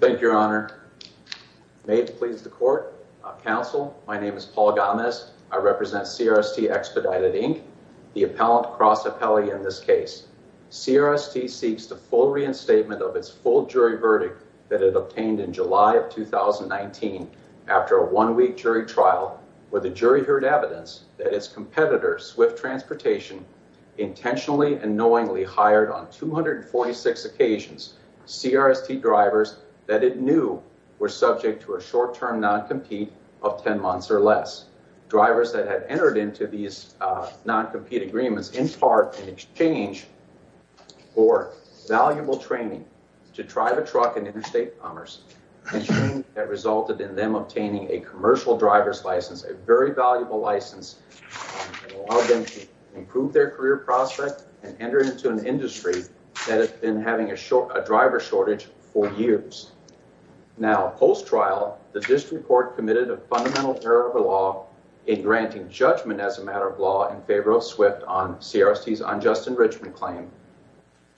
Thank you, Your Honor. May it please the Court, Counsel, my name is Paul Gomez. I represent CRST Expedited, Inc., the appellant cross appellee in this case. CRST seeks the full reinstatement of its full jury verdict that it obtained in July of 2019 after a one-week jury trial where the jury heard evidence that its competitor, Swift Transportation, intentionally and knowingly fired on 246 occasions CRST drivers that it knew were subject to a short-term non-compete of 10 months or less. Drivers that had entered into these non-compete agreements in part in exchange for valuable training to drive a truck in interstate commerce and training that resulted in them obtaining a commercial driver's license, a very valuable license that allowed them to improve their career prospect and enter into an industry that had been having a driver shortage for years. Now, post-trial, the district court committed a fundamental error of the law in granting judgment as a matter of law in favor of Swift on CRST's unjust enrichment claim,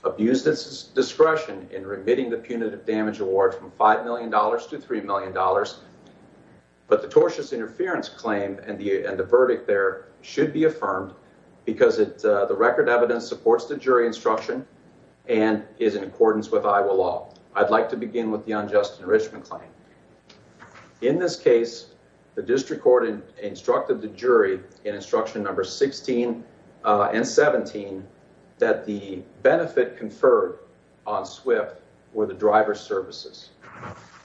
abused its discretion in remitting the punitive damage award from $5 million to $3 million, but the tortious interference claim and the verdict there should be affirmed because the record evidence supports the jury instruction and is in accordance with Iowa law. I'd like to begin with the unjust enrichment claim. In this case, the district court instructed the jury in instruction number 16 and 17 that the benefit conferred on Swift were the driver's services,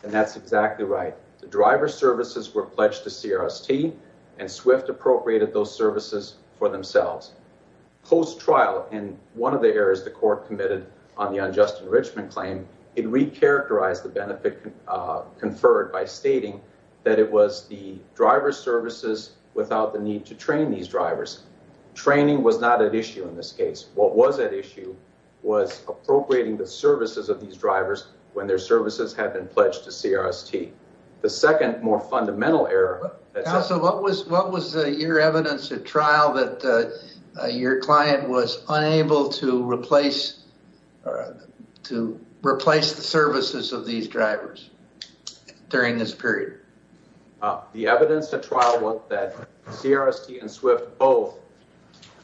and that's exactly right. The driver's services were pledged to CRST and Swift appropriated those services for themselves. Post-trial in one of the errors the court committed on the unjust enrichment claim, it re-characterized the benefit conferred by stating that it was the driver's services without the need to train these drivers. Training was not at issue in this case. What was at issue was appropriating the services of these drivers when their services had been pledged to CRST. The second more fundamental error... Counsel, what was your evidence at trial that your client was unable to replace the services of these drivers during this period? The evidence at trial was that CRST and Swift both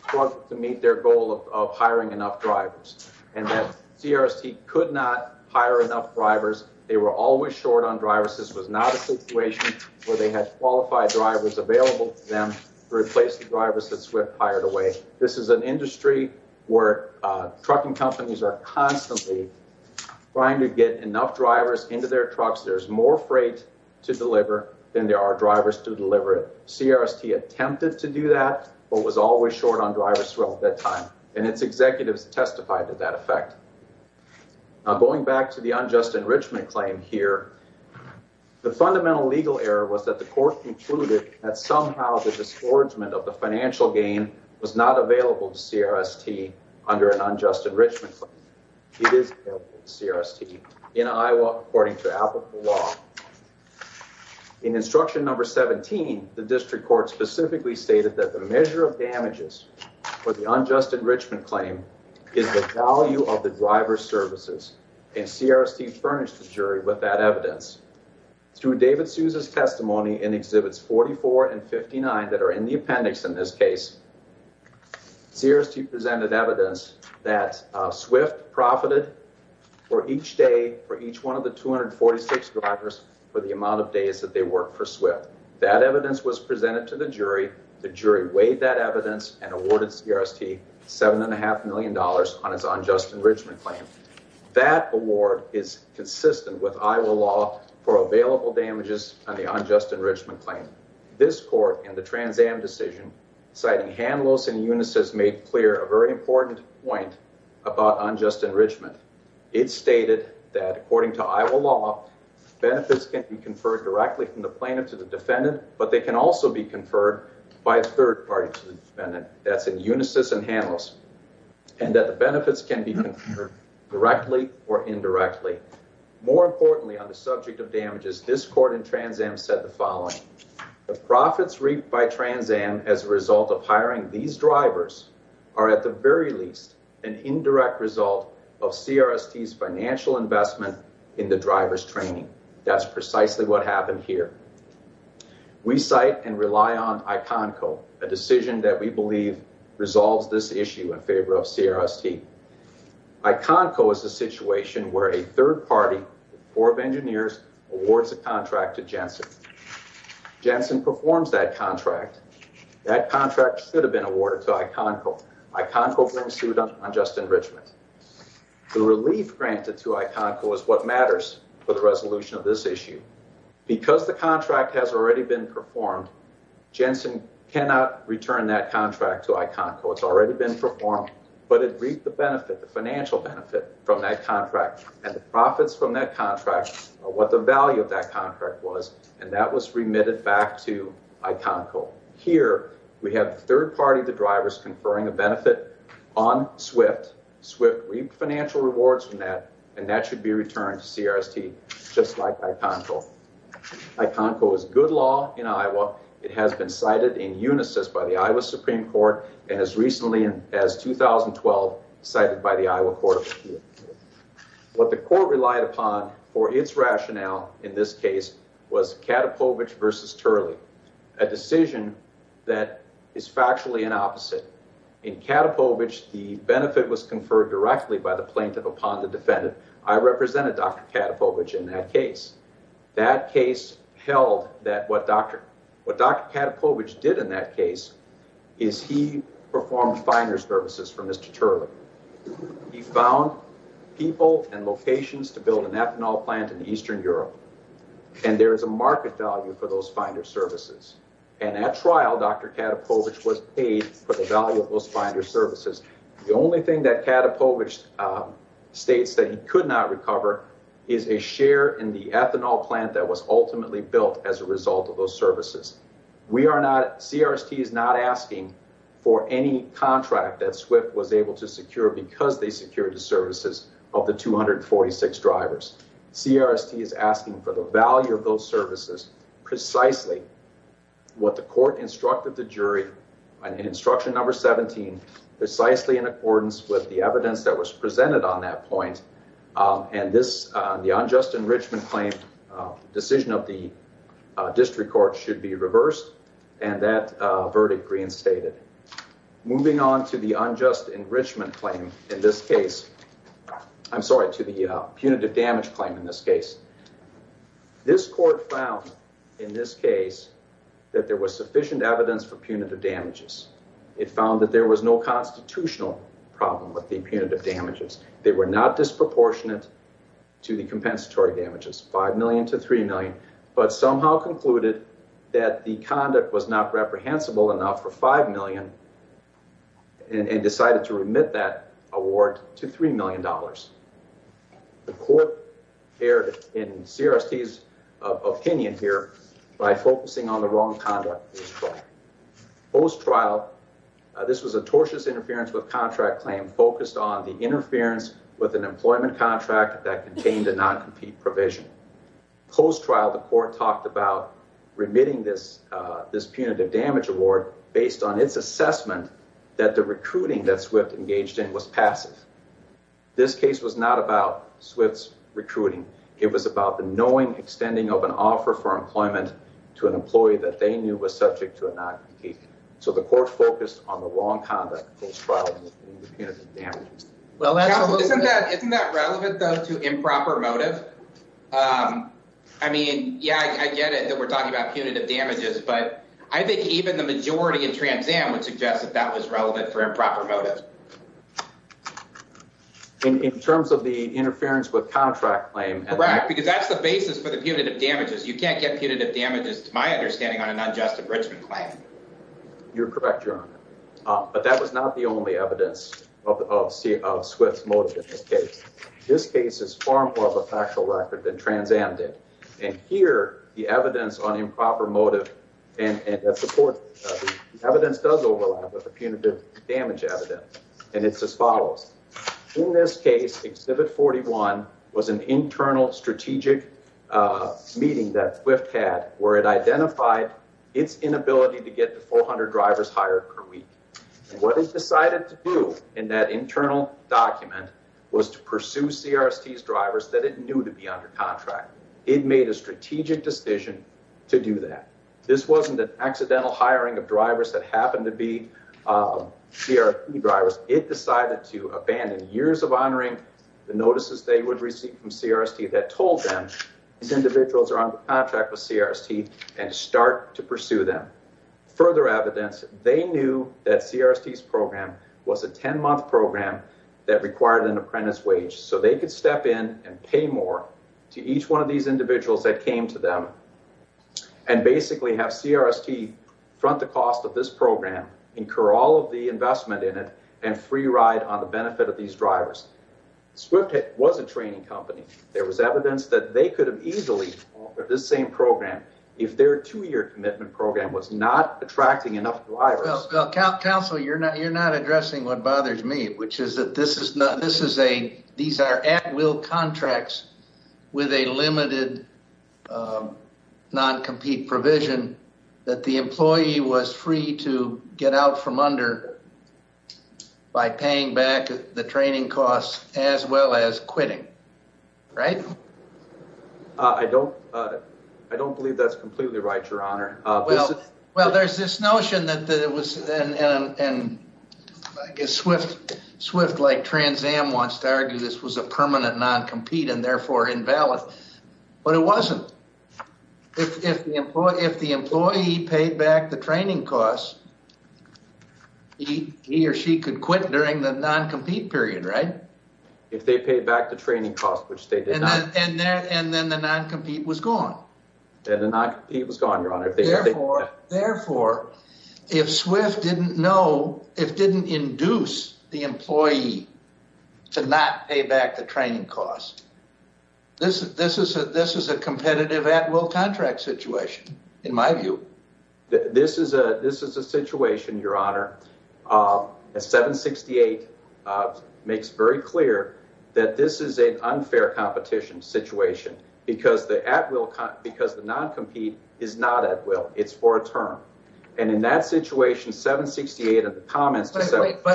struggled to meet their goal of hiring enough drivers, and that CRST could not hire enough drivers. They were always short on drivers. This was not a situation where they had qualified drivers available to them to replace the drivers that Swift hired away. This is an industry where trucking companies are constantly trying to get enough drivers into their trucks. There's more freight to deliver than there are drivers to deliver. CRST attempted to do that, but was always short on drivers throughout that time, and its executives testified to that effect. Going back to the unjust enrichment claim here, the fundamental legal error was that the court concluded that somehow the disgorgement of the financial gain was not available to CRST under an unjust enrichment claim. It is available to CRST in Iowa according to applicable law. In instruction number 17, the district court specifically stated that the measure of damages for the unjust enrichment claim is the value of the driver's services, and CRST furnished the jury with that evidence. Through David Sousa's testimony in Exhibits 44 and 59 that are in the appendix in this case, CRST presented evidence that Swift profited for each day for each one of the 246 drivers for the amount of days that they worked for Swift. That evidence was presented to the on its unjust enrichment claim. That award is consistent with Iowa law for available damages on the unjust enrichment claim. This court in the Trans Am decision, citing Hanlos and Unisys, made clear a very important point about unjust enrichment. It stated that according to Iowa law, benefits can be conferred directly from the plaintiff to the defendant, but they can also be conferred by a third party to the defendant. That's in Unisys and Hanlos. And that the benefits can be conferred directly or indirectly. More importantly on the subject of damages, this court in Trans Am said the following, the profits reaped by Trans Am as a result of hiring these drivers are at the very least an indirect result of CRST's ICONCO, a decision that we believe resolves this issue in favor of CRST. ICONCO is a situation where a third party, the Corps of Engineers, awards a contract to Jensen. Jensen performs that contract. That contract should have been awarded to ICONCO. ICONCO brings suit on unjust enrichment. The relief granted to ICONCO is what matters for the resolution of this issue. Because the contract has already been performed, Jensen cannot return that contract to ICONCO. It's already been performed, but it reaped the benefit, the financial benefit from that contract and the profits from that contract, what the value of that contract was, and that was remitted back to ICONCO. Here we have third party, the drivers conferring a benefit on SWIFT. SWIFT reaped financial rewards from that and that should be returned to CRST just like ICONCO. ICONCO is good law in Iowa. It has been cited in unisys by the Iowa Supreme Court and as recently as 2012 cited by the Iowa Court of Appeals. What the court relied upon for its rationale in this case was Katapovich versus Turley, a decision that is factually an opposite. In Katapovich, the benefit was conferred directly by the plaintiff upon the case. That case held that what Dr. Katapovich did in that case is he performed finder services for Mr. Turley. He found people and locations to build an ethanol plant in Eastern Europe and there is a market value for those finder services. And at trial, Dr. Katapovich was paid for the value of those finder services. The only thing that Katapovich states that he could not recover is a share in the ethanol plant that was ultimately built as a result of those services. We are not, CRST is not asking for any contract that SWIFT was able to secure because they secured the services of the 246 drivers. CRST is asking for the value of those services precisely what the court instructed the jury in instruction number 17, precisely in accordance with the evidence that was presented on that point and the unjust enrichment claim decision of the district court should be reversed and that verdict reinstated. Moving on to the unjust enrichment claim in this case, I'm sorry, to the punitive damage claim in this case. This court found in this case that there was sufficient evidence for punitive damages. It found that there was no constitutional problem with the punitive damages. They were not disproportionate to the compensatory damages, 5 million to 3 million, but somehow concluded that the conduct was not reprehensible enough for 5 million and decided to remit that award to $3 million. The court erred in CRST's opinion here by focusing on the wrong conduct post-trial. Post-trial, this was a tortious interference with contract claim focused on the interference with an employment contract that contained a non-compete provision. Post-trial, the court talked about remitting this punitive damage award based on its assessment that the recruiting that SWIFT engaged in was passive. This case was not about SWIFT's recruiting. It was about the knowing extending of an offer for employment to an employee that they knew was subject to a non-compete. So the court focused on the wrong conduct post-trial in the punitive damages. Isn't that relevant though to improper motive? I mean, yeah, I get it that we're talking about punitive damages, but I think even the majority in Trans Am would suggest that that was relevant for improper motive. In terms of the interference with contract claim. Correct, because that's the basis for the punitive damages. You can't get my understanding on an unjust enrichment claim. You're correct, Your Honor. But that was not the only evidence of SWIFT's motive in this case. This case is far more of a factual record than Trans Am did. And here, the evidence on improper motive and the evidence does overlap with the punitive damage evidence. And it's as follows. In this case, Exhibit 41 was an internal strategic meeting that SWIFT had where it identified its inability to get the 400 drivers hired per week. What it decided to do in that internal document was to pursue CRST's drivers that it knew to be under contract. It made a strategic decision to do that. This wasn't an accidental hiring of drivers that happened to be CRST drivers. It decided to abandon years of honoring the notices they would receive from CRST that told them these individuals are under contract with CRST and start to pursue them. Further evidence, they knew that CRST's program was a 10-month program that required an apprentice wage so they could step in and pay more to each one of these individuals that came to them and basically have CRST front the cost of this program, incur all of the investment in it, and free ride on the benefit of these drivers. SWIFT was a training company. There was evidence that they could have easily offered this same program if their two-year commitment program was not attracting enough drivers. Well, counsel, you're not addressing what bothers me, which is that this is a, these are at-will contracts with a limited non-compete provision that the employee was free to get out from under by paying back the training costs as well as quitting, right? I don't believe that's completely right, your honor. Well, there's this notion that it was, and I guess SWIFT like Trans Am wants to argue this was a permanent non-compete and therefore invalid, but it wasn't. If the employee paid back the training costs, he or she could quit during the non-compete period, right? If they paid back the training costs, which they did not. And then the non-compete was gone. And the non-compete was gone, your honor. Therefore, if SWIFT didn't know, if didn't induce the employee to not pay back the situation, in my view. This is a, this is a situation, your honor, 768 makes very clear that this is an unfair competition situation because the at-will, because the non-compete is not at-will, it's for a term. And in that situation, 768 of the comments. But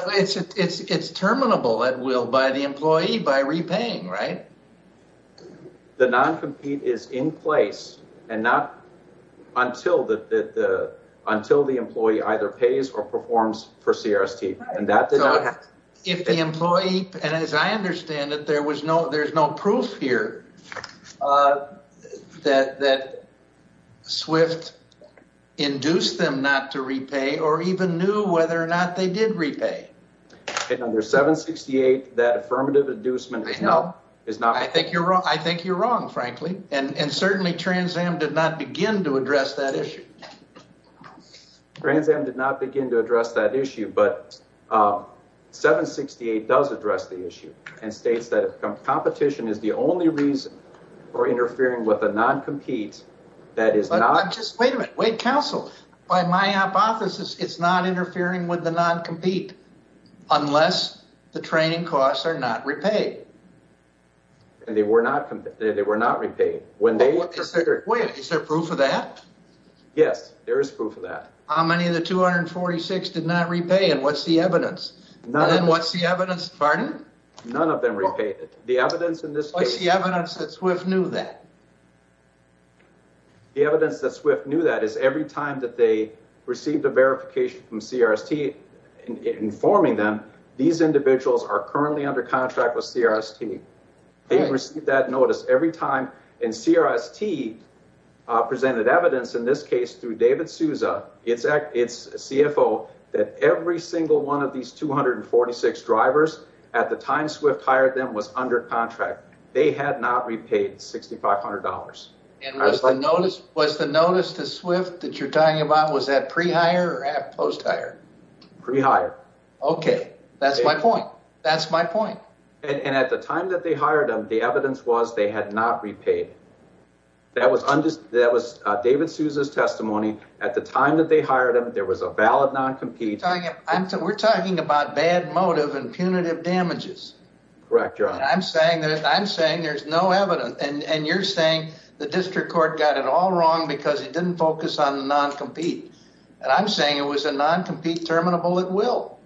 it's, it's, it's terminable at-will by the employee by repaying, right? The non-compete is in place and not until the, the, until the employee either pays or performs for CRST. And that did not happen. If the employee, and as I understand it, there was no, there's no proof here that, that SWIFT induced them not to repay or even knew whether or not they did repay. And under 768, that affirmative inducement is not. I think you're wrong. I think you're wrong, frankly. And certainly Trans Am did not begin to address that issue. Trans Am did not begin to address that issue, but 768 does address the issue and states that competition is the only reason for interfering with a non-compete that is not. Wait a minute. Wait, counsel, by my hypothesis, it's not interfering with the non-compete unless the training costs are not repaid. And they were not, they were not repaid. When they. Wait, is there proof of that? Yes, there is proof of that. How many of the 246 did not repay and what's the evidence? None. And what's the evidence, pardon? None of them repaid. The evidence in this case. What's the evidence that SWIFT knew that? The evidence that SWIFT knew that is every time that they received a verification from CRST informing them these individuals are currently under contract with CRST. They received that notice every time and CRST presented evidence in this case through David Souza, its CFO, that every single one of these 246 drivers at the time SWIFT hired them was under contract. They had not repaid $6,500. And was the notice to SWIFT that you're talking about, was that pre-hire or post-hire? Pre-hire. Okay. That's my point. That's my point. And at the time that they hired them, the evidence was they had not repaid. That was David Souza's testimony. At the time that they hired them, there was a valid non-compete. We're talking about bad motive and punitive damages. Correct. I'm saying there's no evidence. And you're saying the district court got it all wrong because he didn't focus on the non-compete. And I'm saying it was a non-compete terminable at will.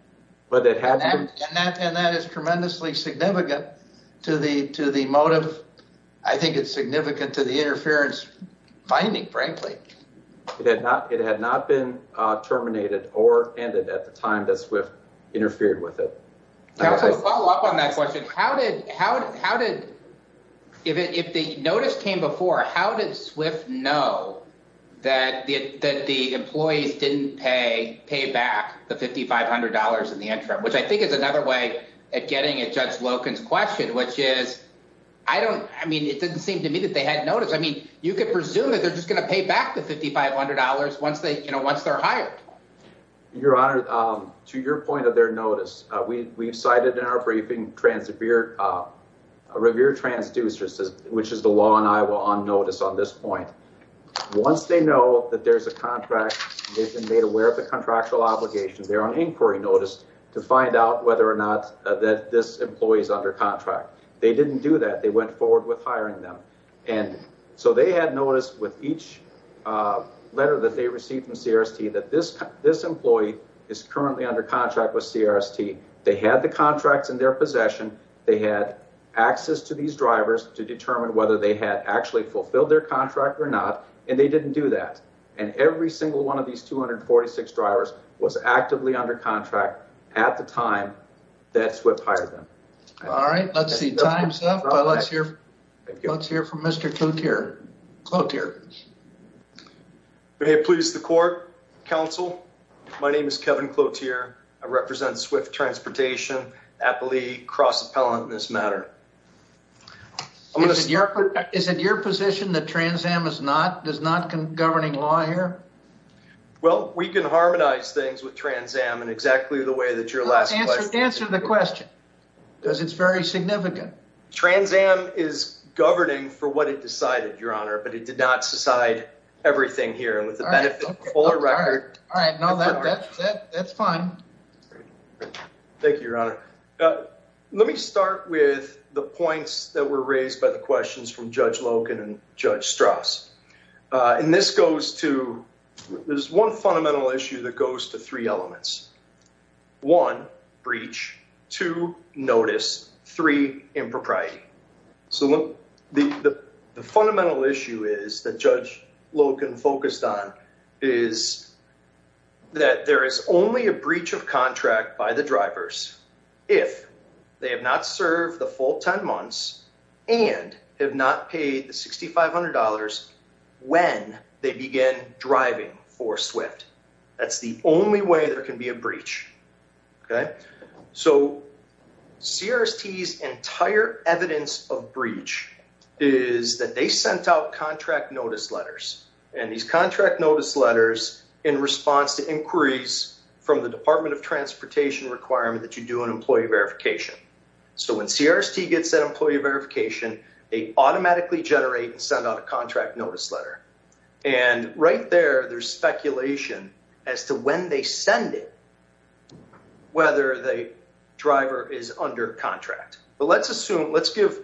And that is tremendously significant to the motive. I think it's significant to the interference finding, frankly. It had not been terminated or ended at the interfered with it. To follow up on that question, if the notice came before, how did SWIFT know that the employees didn't pay back the $5,500 in the interim? Which I think is another way at getting at Judge Loken's question, which is, I mean, it didn't seem to me that they had noticed. I mean, you could presume that they're just going to pay back the $5,500 once they're hired. Your Honor, to your point of their notice, we've cited in our briefing a revere transducer, which is the law in Iowa on notice on this point. Once they know that there's a contract, they've been made aware of the contractual obligations, they're on inquiry notice to find out whether or not that this employee is under contract. They didn't do that. They went forward with hiring them. And so they had noticed with each letter that they received from this employee is currently under contract with CRST. They had the contracts in their possession. They had access to these drivers to determine whether they had actually fulfilled their contract or not. And they didn't do that. And every single one of these 246 drivers was actively under contract at the time that SWIFT hired them. All right. Let's see, time's up. Let's hear from Mr. Cloutier. May it please the court, counsel? My name is Kevin Cloutier. I represent SWIFT Transportation, Appalachia Cross Appellant in this matter. Is it your position that Trans Am does not govern law here? Well, we can harmonize things with Trans Am in exactly the way that your last question... Answer the question, because it's very significant. Trans Am is governing for what it decided, Your Honor, but it did not decide everything here. And with the benefit of a fuller record... All right. No, that's fine. Thank you, Your Honor. Let me start with the points that were raised by the questions from Judge Loken and Judge Strauss. And this goes to... There's one fundamental issue that goes to three elements. One, breach. Two, notice. Three, impropriety. So the fundamental issue is that Judge Loken focused on is that there is only a breach of contract by the drivers if they have not served the full 10 months and have not paid the $6,500 when they begin driving for SWIFT. That's the only way there can be a breach. So CRST's entire evidence of breach is that they sent out contract notice letters. And these contract notice letters in response to inquiries from the Department of Transportation requirement that you do an employee verification. So when CRST gets that employee verification, they automatically generate and send out a contract notice letter. And right there, there's speculation as to when they send it, whether the driver is under contract. But let's assume... Let's give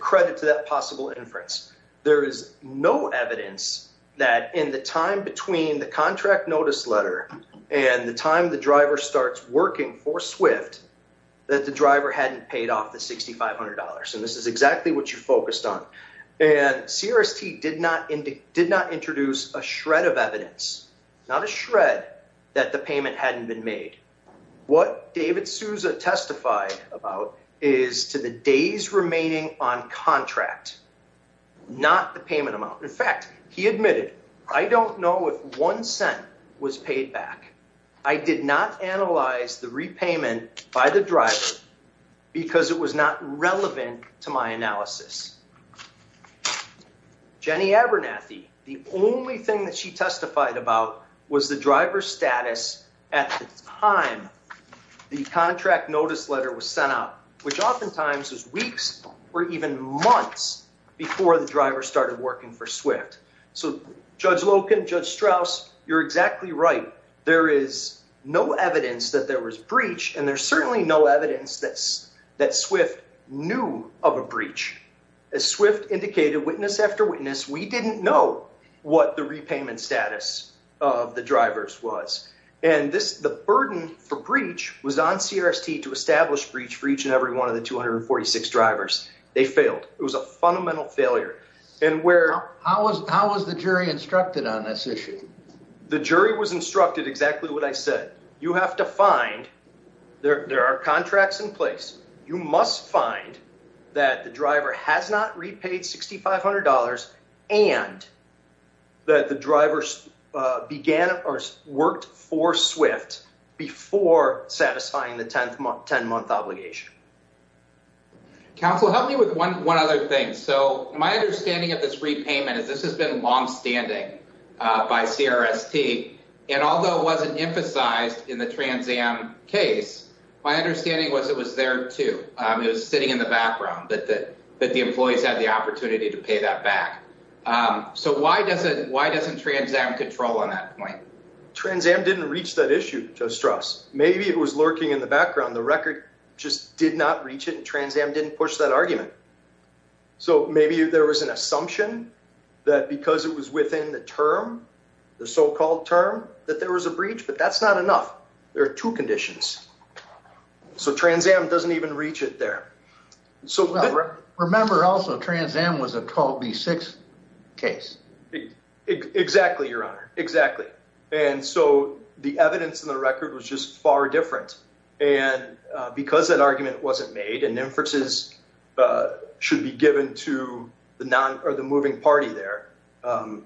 credit to that possible inference. There is no evidence that in the time between the contract notice letter and the time the driver starts working for SWIFT, that the driver hadn't paid off the $6,500. And this is exactly what you focused on. And CRST did not introduce a shred of evidence, not a shred, that the payment hadn't been made. What David Souza testified about is to the days remaining on contract, not the payment amount. In fact, he admitted, I don't know if one cent was paid back. I did not analyze the repayment by the driver because it was not relevant to my analysis. Jenny Abernathy, the only thing that she testified about was the driver's status at the time the contract notice letter was sent out, which oftentimes was weeks or even months before the no evidence that there was breach. And there's certainly no evidence that SWIFT knew of a breach. As SWIFT indicated witness after witness, we didn't know what the repayment status of the drivers was. And the burden for breach was on CRST to establish breach for each and every one of the 246 drivers. They failed. It was a fundamental failure. And where... How was the jury instructed on this issue? The jury was instructed exactly what I said. You have to find, there are contracts in place. You must find that the driver has not repaid $6,500 and that the drivers began or worked for SWIFT before satisfying the 10 month obligation. Counsel, help me with one other thing. So my understanding of this repayment is this has been longstanding by CRST. And although it wasn't emphasized in the Trans Am case, my understanding was it was there too. It was sitting in the background, but the employees had the opportunity to pay that back. So why doesn't Trans Am control on that point? Trans Am didn't reach that issue, Joe Strauss. Maybe it was lurking in the background. The record just did not reach it and Trans Am didn't push that argument. So maybe there was an assumption that because it was within the term, the so-called term, that there was a breach, but that's not enough. There are two conditions. So Trans Am doesn't even reach it there. Remember also Trans Am was a 12B6 case. Exactly, Your Honor. Exactly. And so the evidence in the record was just far different. And because that argument wasn't made and inferences should be given to the moving party there,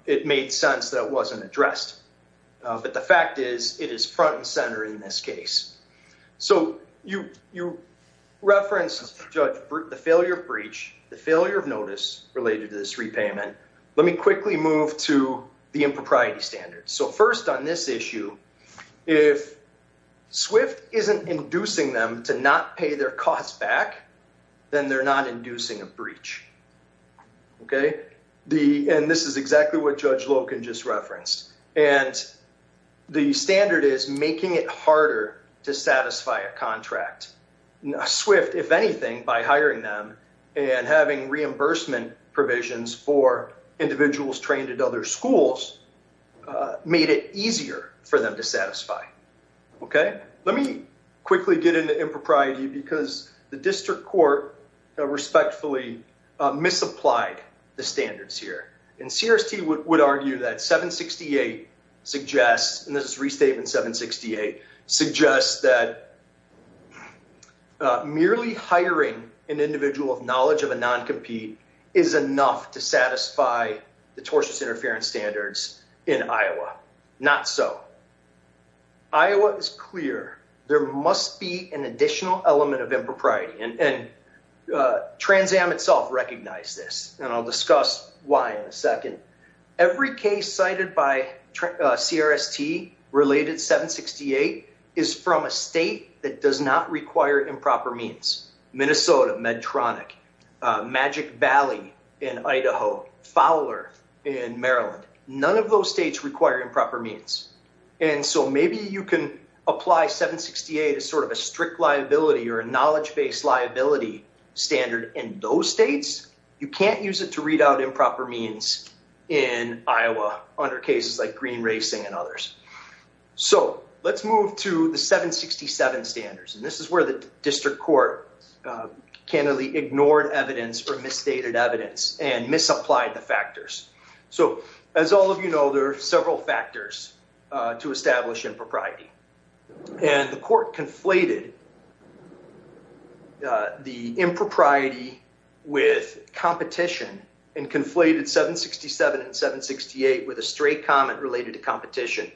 it made sense that it wasn't addressed. But the fact is it is front and center in this case. So you referenced, Judge, the failure of breach, the failure of notice related to this repayment. Let me quickly move to the impropriety standards. So first on this issue, if SWIFT isn't inducing them to not pay their costs back, then they're not inducing a breach. And this is exactly what Judge Loken just referenced. And the standard is making it harder to satisfy a contract. SWIFT, if anything, by hiring them and having reimbursement provisions for individuals trained at other schools, made it easier for them to satisfy. Let me quickly get into impropriety because the district court respectfully misapplied the standards here. And CRST would argue that 768 suggests, and this is restatement 768, suggests that merely hiring an individual of knowledge of a noncompete is enough to satisfy the tortious interference standards in Iowa. Not so. Iowa is clear. There must be an additional element of impropriety. And Trans Am itself recognized this. And I'll discuss why in a minute. But 768 is from a state that does not require improper means. Minnesota, Medtronic, Magic Valley in Idaho, Fowler in Maryland. None of those states require improper means. And so maybe you can apply 768 as sort of a strict liability or a knowledge-based liability standard in those states. You can't use it to read out improper means in Iowa under cases like the 767 standards. And this is where the district court candidly ignored evidence or misstated evidence and misapplied the factors. So as all of you know, there are several factors to establish impropriety. And the court conflated the impropriety with competition and conflated 767 and 768 with a straight comment related to competition.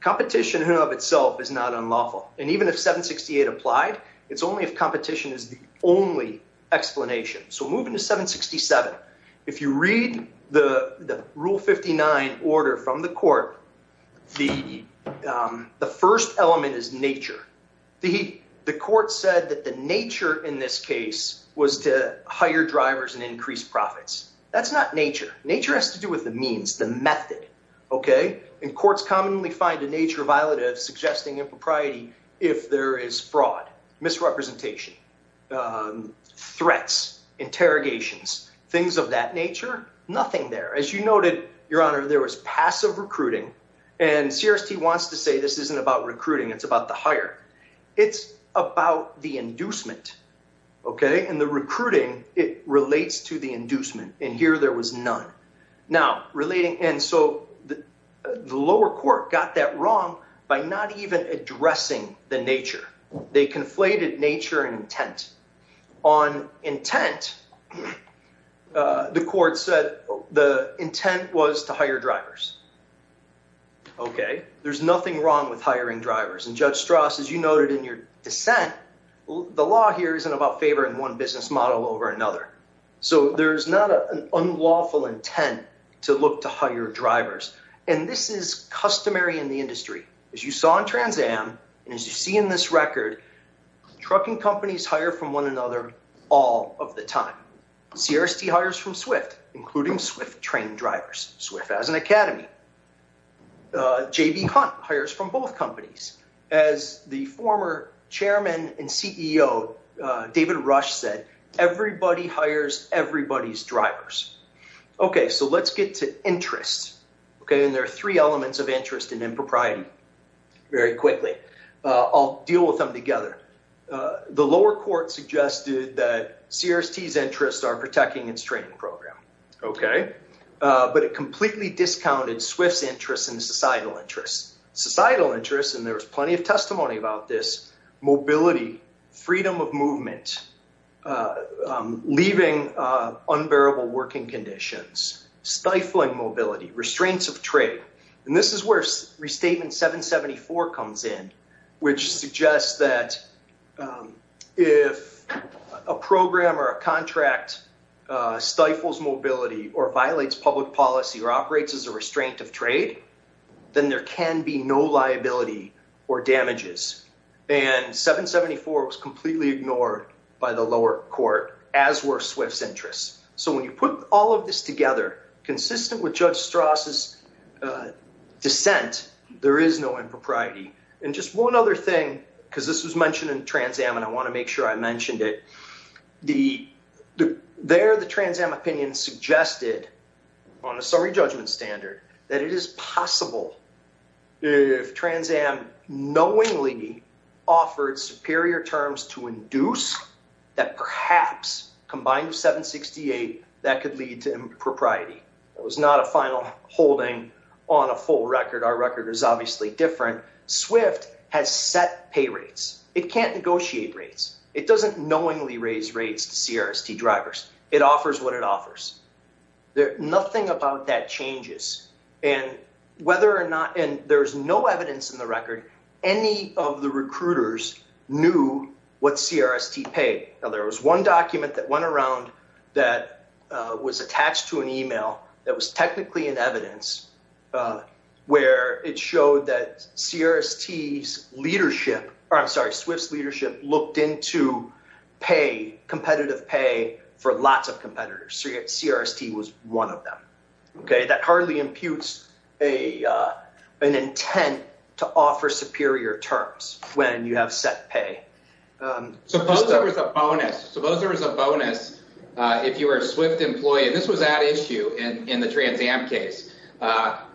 Competition of itself is not unlawful. And even if 768 applied, it's only if competition is the only explanation. So moving to 767, if you read the Rule 59 order from the court, the first element is nature. The court said that the nature in this case was to hire drivers and increase profits. That's not nature. Nature has to do with the means, the method. And courts commonly find a nature violative suggesting impropriety if there is fraud, misrepresentation, threats, interrogations, things of that nature. Nothing there. As you noted, Your Honor, there was passive recruiting. And CRST wants to say this isn't about recruiting. It's about the hire. It's about the inducement. Okay? And the recruiting, it relates to the inducement. And here there was none. And so the lower court got that wrong by not even addressing the nature. They conflated nature and intent. On intent, the court said the intent was to hire drivers. Okay? There's nothing wrong with hiring drivers. And Judge Strauss, as you noted in your over another. So there's not an unlawful intent to look to hire drivers. And this is customary in the industry. As you saw in Trans Am and as you see in this record, trucking companies hire from one another all of the time. CRST hires from SWIFT, including SWIFT trained drivers. SWIFT has an academy. J.B. Hunt hires from both companies. As the former chairman and CEO, David Rush said, everybody hires everybody's drivers. Okay. So let's get to interest. Okay. And there are three elements of interest in impropriety. Very quickly. I'll deal with them together. The lower court suggested that CRST's interests are protecting its training program. Okay. But it completely discounted SWIFT's interests and societal interests. Societal freedom of movement, leaving unbearable working conditions, stifling mobility, restraints of trade. And this is where Restatement 774 comes in, which suggests that if a program or a contract stifles mobility or violates public policy or operates as a restraint of trade, then there can be no liability or damages. And 774 was completely ignored by the lower court, as were SWIFT's interests. So when you put all of this together, consistent with Judge Strauss' dissent, there is no impropriety. And just one other thing, because this was mentioned in Trans Am, and I want to make sure I mentioned it. There, the Trans Am opinion suggested, on a summary judgment standard, that it is possible if Trans Am knowingly offered superior terms to induce that perhaps, combined with 768, that could lead to impropriety. It was not a final holding on a full record. Our record is obviously different. SWIFT has set pay rates. It can't negotiate rates. It doesn't knowingly raise rates to CRST drivers. It offers what it offers. Nothing about that changes. And there's no evidence in the record, any of the recruiters knew what CRST paid. Now, there was one document that went around that was attached to an email that was technically in evidence, where it showed that CRST's leadership, or I'm sorry, SWIFT's leadership, looked into pay, competitive pay, for lots of competitors. CRST was one of them. That hardly imputes an intent to offer superior terms when you have set pay. Suppose there was a bonus. Suppose there was a bonus, if you were a SWIFT employee, and this was at issue in the Trans Am case,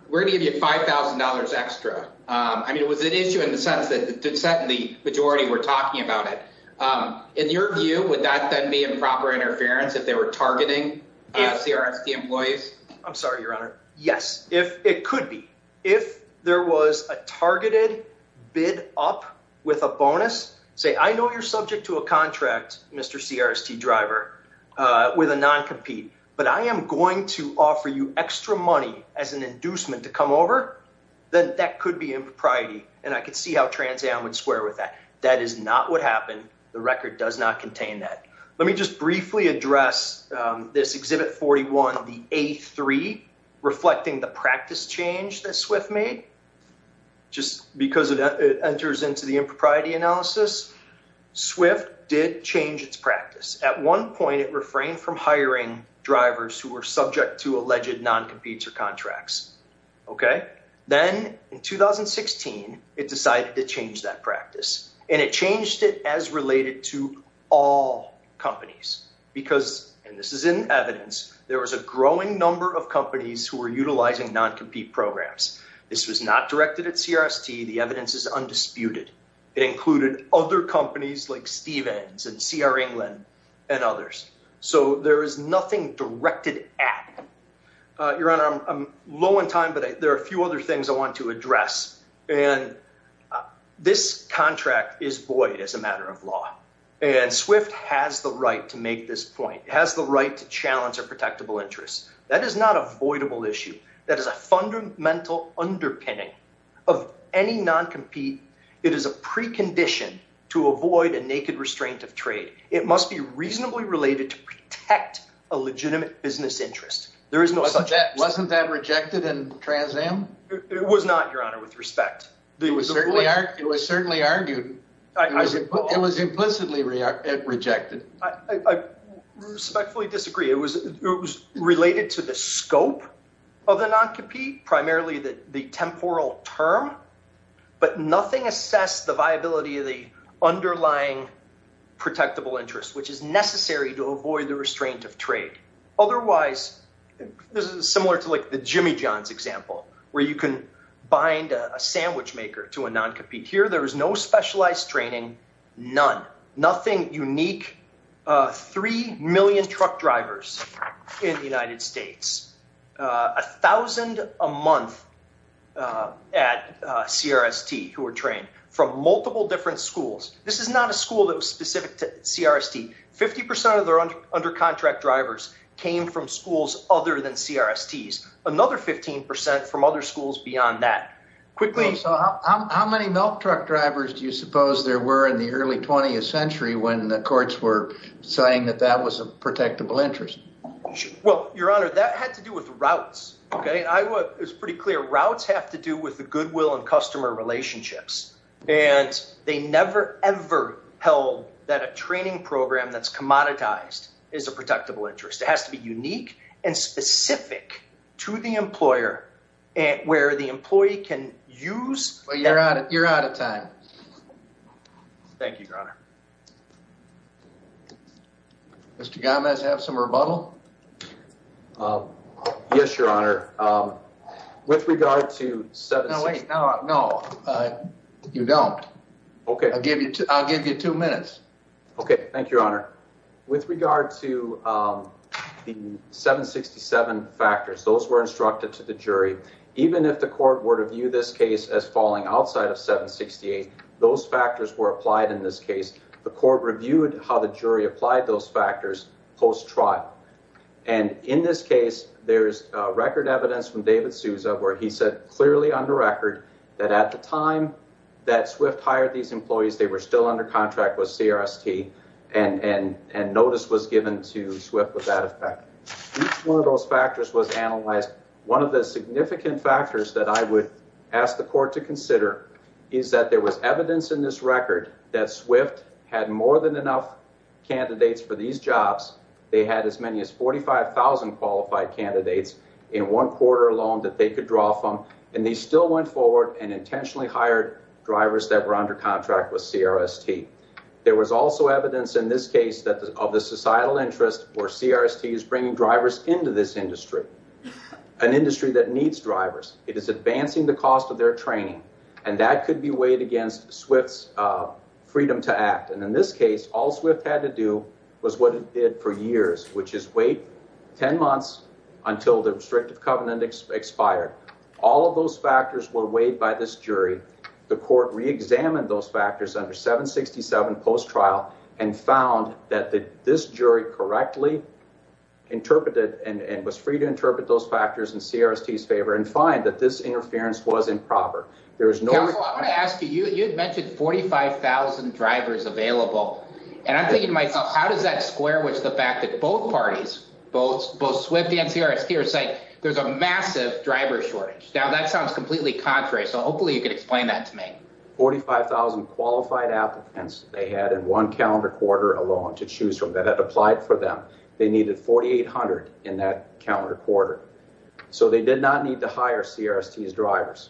we're going to give you $5,000 extra. I mean, it was an issue in the sense that the majority were talking about it. In your view, would that then be improper interference if they were targeting CRST employees? I'm sorry, Your Honor. Yes, it could be. If there was a targeted bid up with a bonus, say, I know you're subject to a contract, Mr. CRST driver, with a non-compete, but I am going to offer you extra money as an inducement to come over, then that could be impropriety, and I could see how Trans Am would square with that. That is not what happened. The record does not contain that. Let me just briefly address this Exhibit 41, the A3, reflecting the practice change that SWIFT made. Just because it enters into the impropriety analysis, SWIFT did change its practice. At one point, it refrained from hiring drivers who were subject to alleged non-competes or contracts. Then in 2016, it decided to change that practice, and it changed it as related to all companies, because, and this is in evidence, there was a growing number of companies who were utilizing non-compete programs. This was not directed at CRST. The evidence is undisputed. It included other companies like Stevens and CR England and others. There is nothing directed at. Your Honor, I'm low on time, but there are a few other things I want to address. This contract is void as a matter of law, and SWIFT has the right to make this point. It has the right to challenge a protectable interest. That is not a voidable issue. That is a fundamental underpinning of any non-compete. It is a precondition to avoid a naked restraint of trade. It must be reasonably related to protect a legitimate business interest. Wasn't that rejected in Trans Am? It was not, Your Honor, with respect. It was certainly argued. It was implicitly rejected. I respectfully disagree. It was related to the scope of the non-compete, primarily the temporal term, but nothing assessed the viability of the underlying protectable interest, which is necessary to avoid the restraint of trade. Otherwise, this is similar to like the Jimmy Johns example, where you can bind a sandwich maker to a non-compete. Here, there is no contradiction. Three million truck drivers in the United States, a thousand a month at CRST who are trained from multiple different schools. This is not a school that was specific to CRST. Fifty percent of their under contract drivers came from schools other than CRSTs, another 15 percent from other schools beyond that. How many milk truck drivers do you suppose there were in the early 20th century when the courts were saying that that was a protectable interest? Well, Your Honor, that had to do with routes. It was pretty clear. Routes have to do with the goodwill and customer relationships, and they never ever held that a training program that's commoditized is a protectable interest. It has to be unique and specific to the employer where the employee can use. Thank you, Your Honor. Mr. Gomez, have some rebuttal? Yes, Your Honor. With regard to 767... No, wait. No, no. You don't. Okay. I'll give you two minutes. Okay. Thank you, Your Honor. With regard to the 767 factors, those were instructed to the jury. Even if the court were to view this case as falling outside of 768, those factors were how the jury applied those factors post-trial. And in this case, there's record evidence from David Souza where he said clearly on the record that at the time that Swift hired these employees, they were still under contract with CRST, and notice was given to Swift with that effect. Each one of those factors was analyzed. One of the significant factors that I would ask the court to consider is that there was evidence in this record that Swift had more than enough candidates for these jobs. They had as many as 45,000 qualified candidates in one quarter alone that they could draw from, and they still went forward and intentionally hired drivers that were under contract with CRST. There was also evidence in this case of the societal interest where CRST is bringing drivers into this industry, an industry that needs drivers. It is advancing the cost of their training, and that could be weighed against Swift's freedom to act. And in this case, all Swift had to do was what it did for years, which is wait 10 months until the restrictive covenant expired. All of those factors were weighed by this jury. The court reexamined those factors under 767 post-trial and found that this jury correctly interpreted and was free to interpret those factors in CRST's favor and that this interference was improper. Counsel, I want to ask you, you had mentioned 45,000 drivers available, and I'm thinking to myself, how does that square with the fact that both parties, both Swift and CRST, are saying there's a massive driver shortage? Now that sounds completely contrary, so hopefully you can explain that to me. 45,000 qualified applicants they had in one calendar quarter alone to choose from that had applied for them. They needed 4,800 in that calendar quarter, so they did not need to hire CRST's drivers.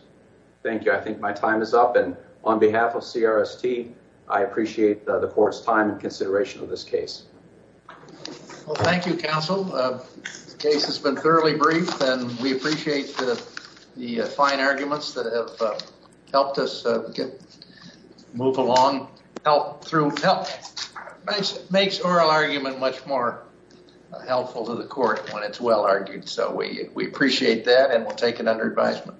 Thank you. I think my time is up, and on behalf of CRST, I appreciate the court's time and consideration of this case. Well, thank you, counsel. The case has been thoroughly briefed, and we appreciate the fine arguments that have helped us move along through health. Makes oral argument much more helpful to court when it's well argued, so we appreciate that, and we'll take it under advisement.